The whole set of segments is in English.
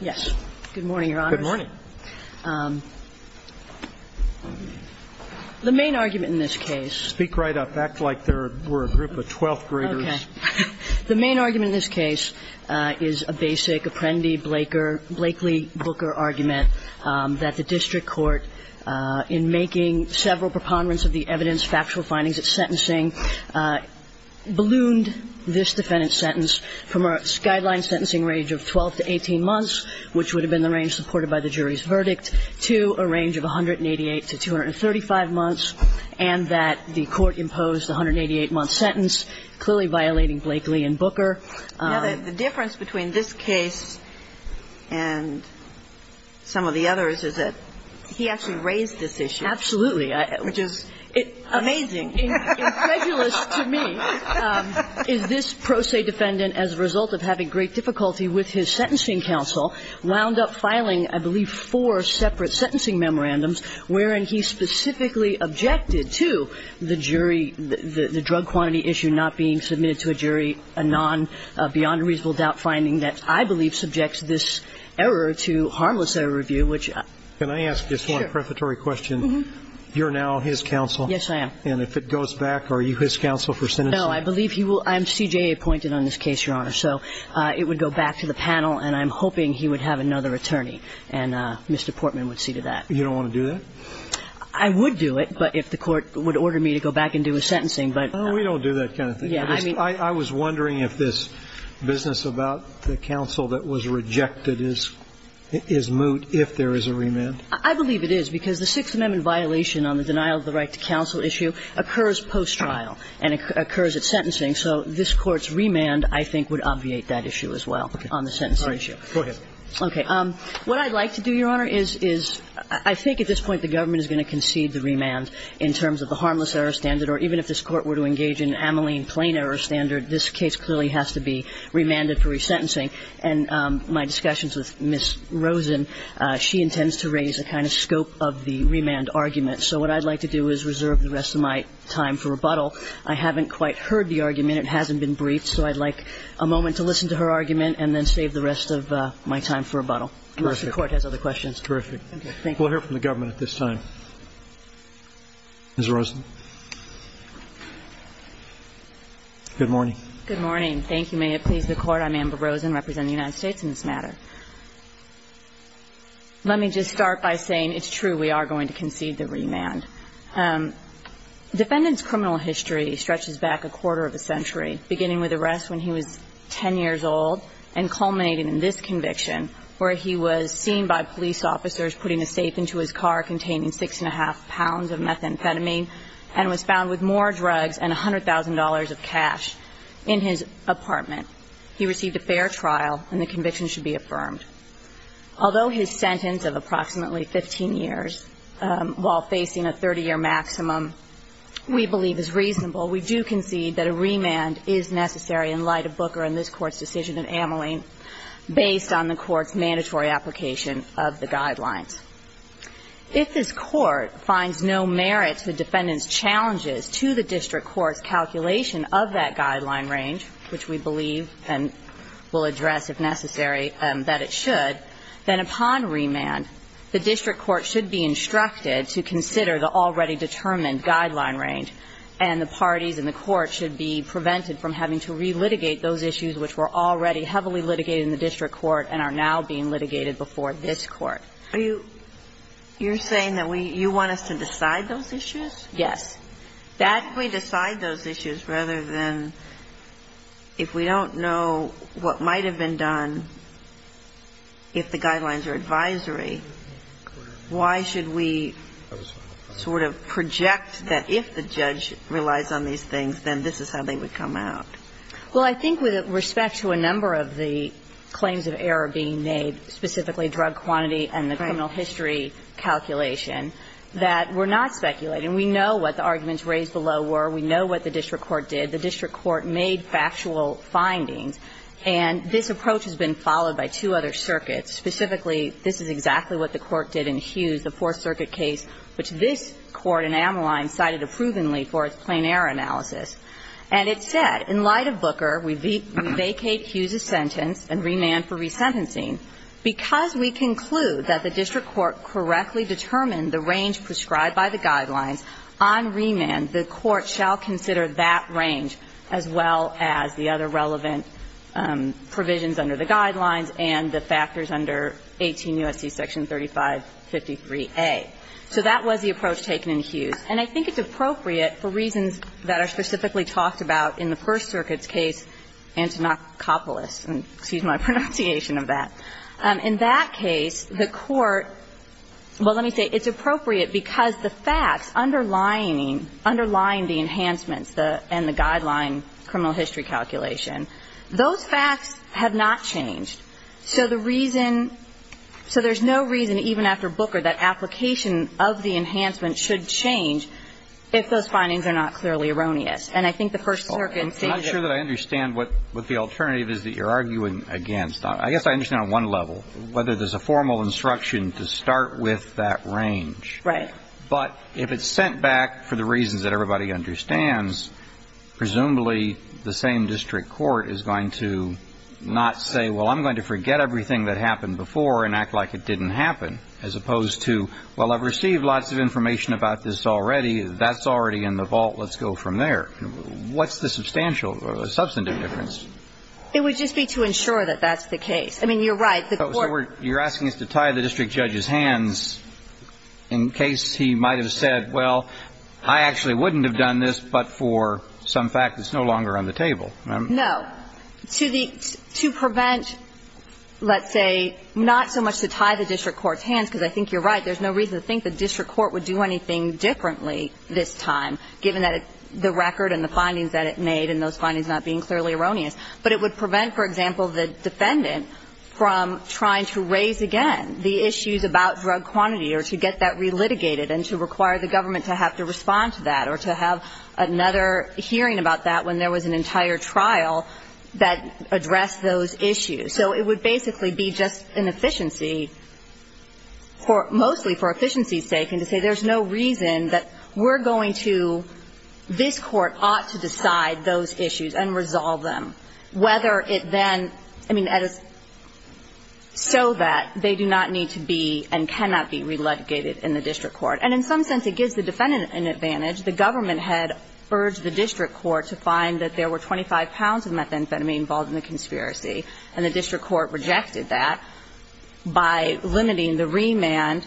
Yes. Good morning, Your Honors. Good morning. The main argument in this case Speak right up. Act like we're a group of twelfth graders. Okay. The main argument in this case is a basic Apprendi-Blaker, Blakely-Booker argument that the district court, in making several preponderance of the evidence, factual findings, its sentencing, ballooned this defendant's sentence from a guideline sentencing range of 12 to 18 months, which would have been the range supported by the jury's verdict, to a range of 188 to 235 months, and that the court imposed a 188-month sentence, clearly violating Blakely and Booker. You know, the difference between this case and some of the others is that he actually raised this issue. Absolutely. Which is amazing. Incredulous to me is this pro se defendant, as a result of having great difficulty with his sentencing counsel, wound up filing, I believe, four separate sentencing memorandums wherein he specifically objected to the jury, the drug quantity issue not being submitted to a jury, a non-beyond-reasonable-doubt finding that I believe subjects this error to harmless error review. Can I ask just one prefatory question? Mm-hmm. You're now his counsel. Yes, I am. And if it goes back, are you his counsel for sentencing? No. I believe he will. I'm CJA appointed on this case, Your Honor. So it would go back to the panel, and I'm hoping he would have another attorney, and Mr. Portman would see to that. You don't want to do that? I would do it, but if the court would order me to go back and do his sentencing, but no. No, we don't do that kind of thing. I was wondering if this business about the counsel that was rejected is moot, if there is a remand. I believe it is, because the Sixth Amendment violation on the denial of the right to counsel issue occurs post-trial and occurs at sentencing. So this Court's remand, I think, would obviate that issue as well on the sentencing issue. All right. Go ahead. Okay. What I'd like to do, Your Honor, is I think at this point the government is going to concede the remand in terms of the harmless error standard, or even if this Court were to engage in ameline plain error standard, this case clearly has to be remanded for resentencing. And my discussions with Ms. Rosen, she intends to raise the kind of scope of the remand argument. So what I'd like to do is reserve the rest of my time for rebuttal. I haven't quite heard the argument. It hasn't been briefed, so I'd like a moment to listen to her argument and then save the rest of my time for rebuttal. Unless the Court has other questions. Terrific. Okay. Thank you. We'll hear from the government at this time. Ms. Rosen. Good morning. Good morning. May it please the Court, I'm Amber Rosen, representing the United States in this matter. Let me just start by saying it's true, we are going to concede the remand. Defendant's criminal history stretches back a quarter of a century, beginning with arrest when he was 10 years old and culminating in this conviction where he was seen by police officers putting a safe into his car containing six and a half pounds of methamphetamine and was found with more drugs and $100,000 of cash in his apartment. He received a fair trial and the conviction should be affirmed. Although his sentence of approximately 15 years while facing a 30-year maximum we believe is reasonable, we do concede that a remand is necessary in light of Booker and this Court's decision in Ameling based on the Court's mandatory application of the guidelines. If this Court finds no merit to the defendant's challenges to the district court's calculation of that guideline range, which we believe and will address if necessary that it should, then upon remand the district court should be instructed to consider the already determined guideline range and the parties in the court should be prevented from having to relitigate those issues which were already heavily litigated in the district court and are now being litigated before this court. You're saying that you want us to decide those issues? Yes. If we decide those issues rather than if we don't know what might have been done if the guidelines are advisory, why should we sort of project that if the judge relies on these things, then this is how they would come out? Well, I think with respect to a number of the claims of error being made, specifically drug quantity and the criminal history calculation, that we're not speculating. And we know what the arguments raised below were. We know what the district court did. The district court made factual findings. And this approach has been followed by two other circuits. Specifically, this is exactly what the court did in Hughes, the Fourth Circuit case, which this court in Ameline cited approvingly for its plain error analysis. And it said, in light of Booker, we vacate Hughes's sentence and remand for resentencing because we conclude that the district court correctly determined the range prescribed by the guidelines. On remand, the court shall consider that range as well as the other relevant provisions under the guidelines and the factors under 18 U.S.C. Section 3553A. So that was the approach taken in Hughes. And I think it's appropriate for reasons that are specifically talked about in the First Circuit's case antinocopolis. Excuse my pronunciation of that. In that case, the court – well, let me say, it's appropriate because the facts underlining, underlying the enhancements and the guideline criminal history calculation, those facts have not changed. So the reason – so there's no reason, even after Booker, that application of the enhancements should change if those findings are not clearly erroneous. And I think the First Circuit stated that. I'm not sure that I understand what the alternative is that you're arguing against. I guess I understand on one level, whether there's a formal instruction to start with that range. Right. But if it's sent back for the reasons that everybody understands, presumably the same district court is going to not say, well, I'm going to forget everything that happened before and act like it didn't happen, as opposed to, well, I've received lots of information about this already. That's already in the vault. Let's go from there. What's the substantial – substantive difference? It would just be to ensure that that's the case. I mean, you're right. The court – So you're asking us to tie the district judge's hands in case he might have said, well, I actually wouldn't have done this but for some fact that's no longer on the table. No. To the – to prevent, let's say, not so much to tie the district court's hands because I think you're right. There's no reason to think the district court would do anything differently this time, given that the record and the findings that it made and those findings not being clearly erroneous. But it would prevent, for example, the defendant from trying to raise again the issues about drug quantity or to get that relitigated and to require the government to have to respond to that or to have another hearing about that when there was an entire trial that addressed those issues. So it would basically be just an efficiency for – mostly for efficiency's sake and to say there's no reason that we're going to – this Court ought to decide those issues and resolve them, whether it then – I mean, so that they do not need to be and cannot be relitigated in the district court. And in some sense it gives the defendant an advantage. The government had urged the district court to find that there were 25 pounds of methamphetamine involved in the conspiracy, and the district court rejected that by limiting the remand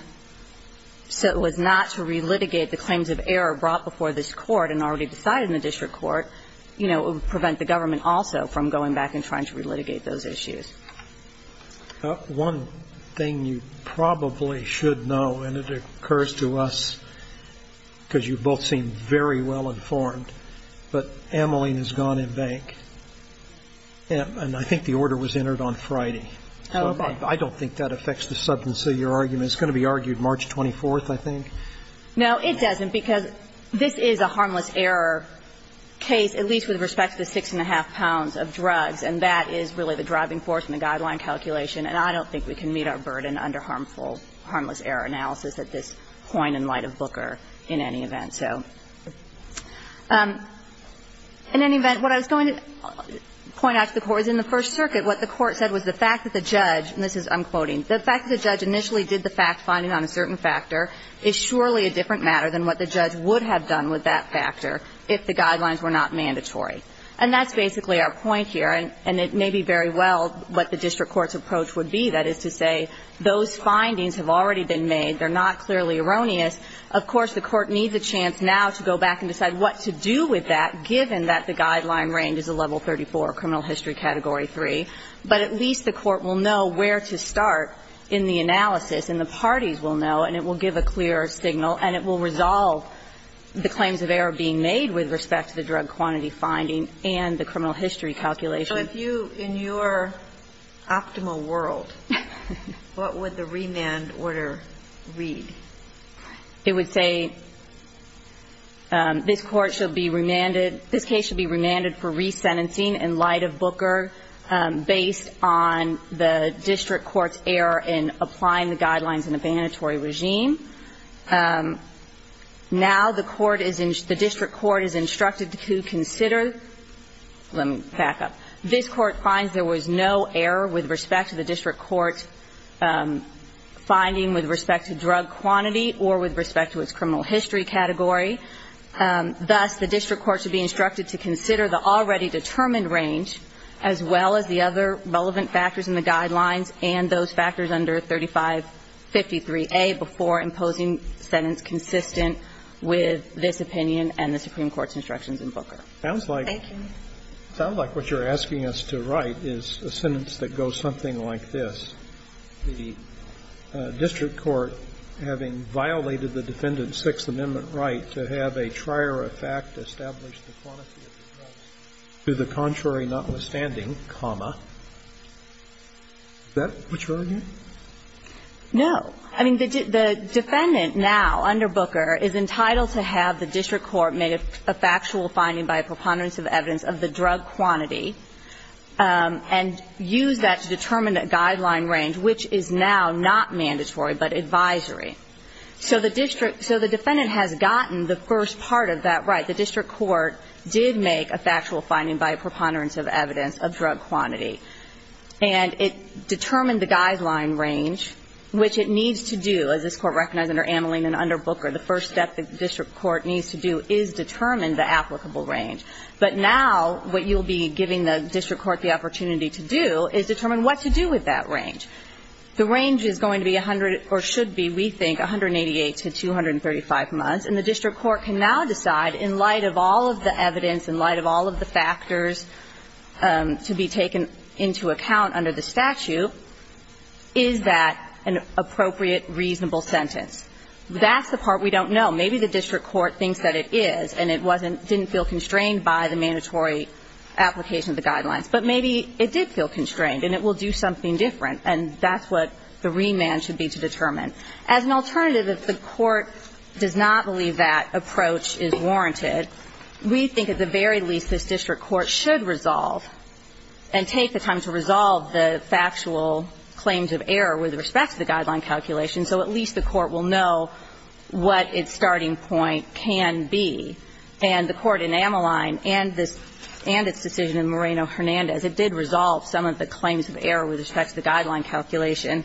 so it was not to relitigate the claims of error brought before this court and already decided in the district court. You know, it would prevent the government also from going back and trying to relitigate those issues. One thing you probably should know, and it occurs to us because you both seem very well informed, but Ameline has gone in bank, and I think the order was entered on Friday. Oh, okay. I don't think that affects the substance of your argument. It's going to be argued March 24th, I think. No, it doesn't, because this is a harmless error case, at least with respect to the 6-1⁄2 pounds of drugs, and that is really the driving force in the guideline calculation, and I don't think we can meet our burden under harmful – harmless error analysis at this point in light of Booker in any event, so. In any event, what I was going to point out to the Court is in the First Circuit what the Court said was the fact that the judge – and this is – I'm quoting – the fact that the judge initially did the fact-finding on a certain factor is surely a different matter than what the judge would have done with that factor if the guidelines were not mandatory. And that's basically our point here, and it may be very well what the district court's approach would be, that is to say those findings have already been made, they're not clearly erroneous. Of course, the Court needs a chance now to go back and decide what to do with that given that the guideline range is a level 34 criminal history category 3, but at least the Court will know where to start in the analysis, and the parties will know, and it will give a clearer signal, and it will resolve the claims of error being made with respect to the drug quantity finding and the criminal history calculation. So if you – in your optimal world, what would the remand order read? It would say this Court shall be remanded – this case shall be remanded for resentencing in light of Booker based on the district court's error in applying the guidelines in a mandatory regime. Now the court is – the district court is instructed to consider – let me back up. This court finds there was no error with respect to the district court finding with respect to drug quantity or with respect to its criminal history category. Thus, the district court should be instructed to consider the already determined range as well as the other relevant factors in the guidelines and those factors under 3553A before imposing sentence consistent with this opinion and the Supreme Court's instructions in Booker. Thank you. It sounds like what you're asking us to write is a sentence that goes something like this. The district court having violated the defendant's Sixth Amendment right to have a trier of fact establish the quantity of the drug to the contrary notwithstanding, comma. Is that what you're arguing? No. I mean, the defendant now under Booker is entitled to have the district court make a factual finding by a preponderance of evidence of the drug quantity and use that to determine a guideline range, which is now not mandatory but advisory. So the defendant has gotten the first part of that right. The district court did make a factual finding by a preponderance of evidence of drug quantity. And it determined the guideline range, which it needs to do, as this court recognized under Ameline and under Booker, the first step the district court needs to do is determine the applicable range. But now what you'll be giving the district court the opportunity to do is determine what to do with that range. The range is going to be 100 or should be, we think, 188 to 235 months. And the district court can now decide in light of all of the evidence, in light of all of the factors to be taken into account under the statute, is that an appropriate, reasonable sentence. That's the part we don't know. Maybe the district court thinks that it is, and it wasn't, didn't feel constrained by the mandatory application of the guidelines. But maybe it did feel constrained, and it will do something different. And that's what the remand should be to determine. As an alternative, if the court does not believe that approach is warranted, we think at the very least this district court should resolve and take the time to resolve the factual claims of error with respect to the guideline calculation so at least the court will know what its starting point can be. And the Court in Ameline and this – and its decision in Moreno-Hernandez, it did resolve some of the claims of error with respect to the guideline calculation.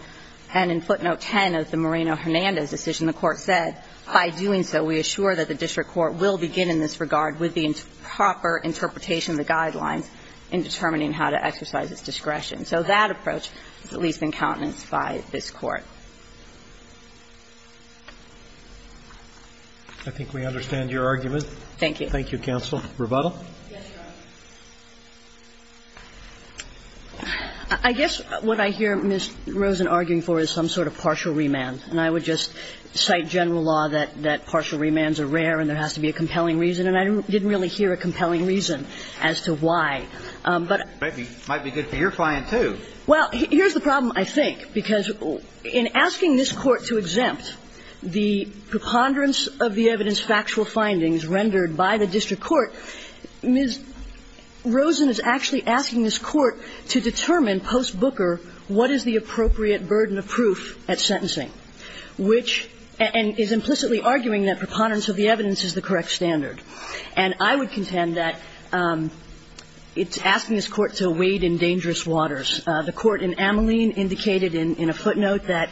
And in footnote 10 of the Moreno-Hernandez decision, the Court said, By doing so, we assure that the district court will begin in this regard with the proper interpretation of the guidelines in determining how to exercise its discretion. So that approach is at least in countenance by this Court. I think we understand your argument. Thank you. Thank you, counsel. Rebuttal? Yes, Your Honor. I guess what I hear Ms. Rosen arguing for is some sort of partial remand. And I would just cite general law that partial remands are rare and there has to be a compelling reason. And I didn't really hear a compelling reason as to why. But it might be good for your client, too. Well, here's the problem, I think, because in asking this Court to exempt the preponderance of the evidence factual findings rendered by the district court, Ms. Rosen is actually asking this Court to determine post Booker what is the appropriate burden of proof at sentencing, which – and is implicitly arguing that preponderance of the evidence is the correct standard. And I would contend that it's asking this Court to wade in dangerous waters. The Court in Ameline indicated in a footnote that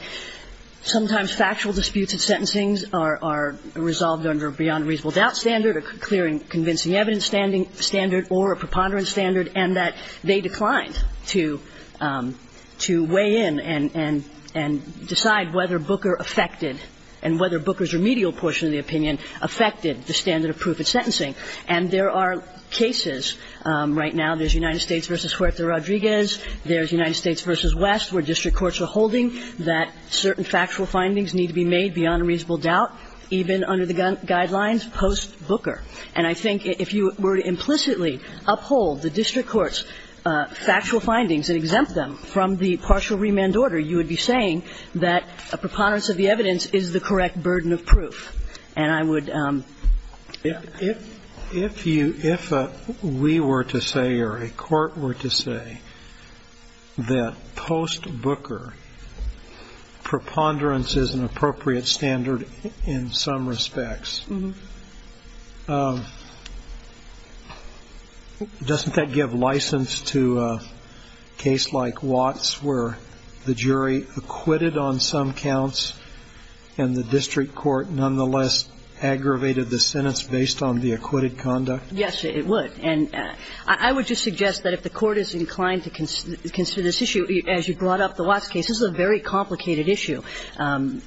sometimes factual disputes at sentencing are resolved under a beyond reasonable doubt standard, a clear and convincing evidence standard or a preponderance standard, and that they declined to weigh in and decide whether Booker affected and whether Booker's remedial portion of the opinion affected the standard of proof at sentencing. And there are cases right now. There's United States v. Huerta-Rodriguez. There's United States v. West, where district courts are holding that certain factual findings need to be made beyond a reasonable doubt, even under the guidelines post Booker. And I think if you were to implicitly uphold the district court's factual findings and exempt them from the partial remand order, you would be saying that a preponderance of the evidence is the correct burden of proof. And I would ---- If you ñ if we were to say or a court were to say that post Booker preponderance is an appropriate standard in some respects, doesn't that give license to a case like Watts where the jury acquitted on some counts and the district court nonetheless aggravated the sentence based on the acquitted conduct? Yes, it would. And I would just suggest that if the court is inclined to consider this issue, as you brought up the Watts case, this is a very complicated issue,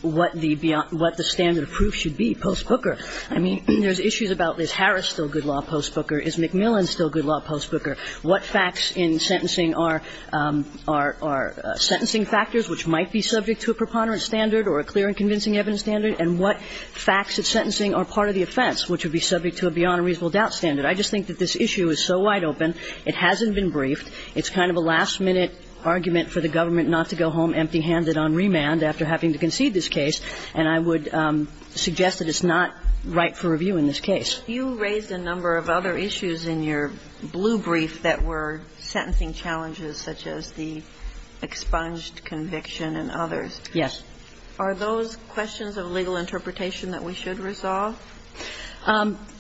what the standard of proof should be post Booker. I mean, there's issues about is Harris still good law post Booker? Is McMillan still good law post Booker? What facts in sentencing are sentencing factors which might be subject to a preponderance standard or a clear and convincing evidence standard? And what facts in sentencing are part of the offense which would be subject to a beyond reasonable doubt standard? I just think that this issue is so wide open, it hasn't been briefed. It's kind of a last-minute argument for the government not to go home empty-handed on remand after having to concede this case. And I would suggest that it's not right for review in this case. You raised a number of other issues in your blue brief that were sentencing challenges, such as the expunged conviction and others. Yes. Are those questions of legal interpretation that we should resolve?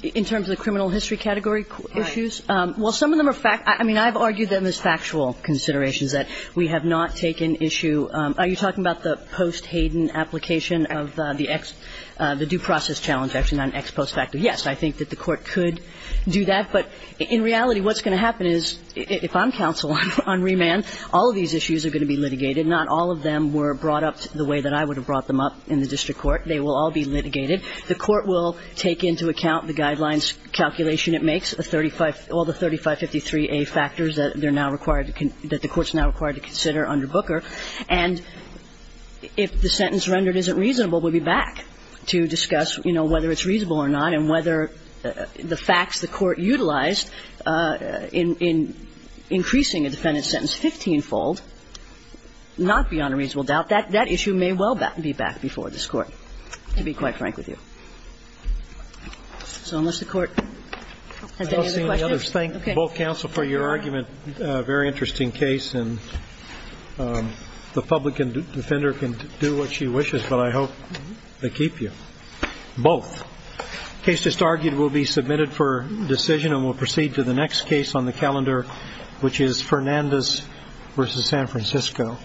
In terms of the criminal history category issues? Right. Well, some of them are fact – I mean, I've argued them as factual considerations, that we have not taken issue – are you talking about the post Hayden application of the ex – the due process challenge action on ex post facto? Yes. I think that the Court could do that. But in reality, what's going to happen is, if I'm counsel on remand, all of these issues are going to be litigated. Not all of them were brought up the way that I would have brought them up in the district court. They will all be litigated. The Court will take into account the guidelines calculation it makes, the 35 – all the 3553a factors that they're now required – that the Court's now required to consider under Booker. And if the sentence rendered isn't reasonable, we'll be back to discuss, you know, whether it's reasonable or not and whether the facts the Court utilized in increasing a defendant's sentence 15-fold, not beyond a reasonable doubt, that issue may well be back before this Court, to be quite frank with you. So unless the Court has any other questions? I don't see any others. Thank both counsel for your argument. Very interesting case. And the public defender can do what she wishes, but I hope they keep you. Both. The case just argued will be submitted for decision and will proceed to the next case on the calendar, which is Fernandez v. San Francisco.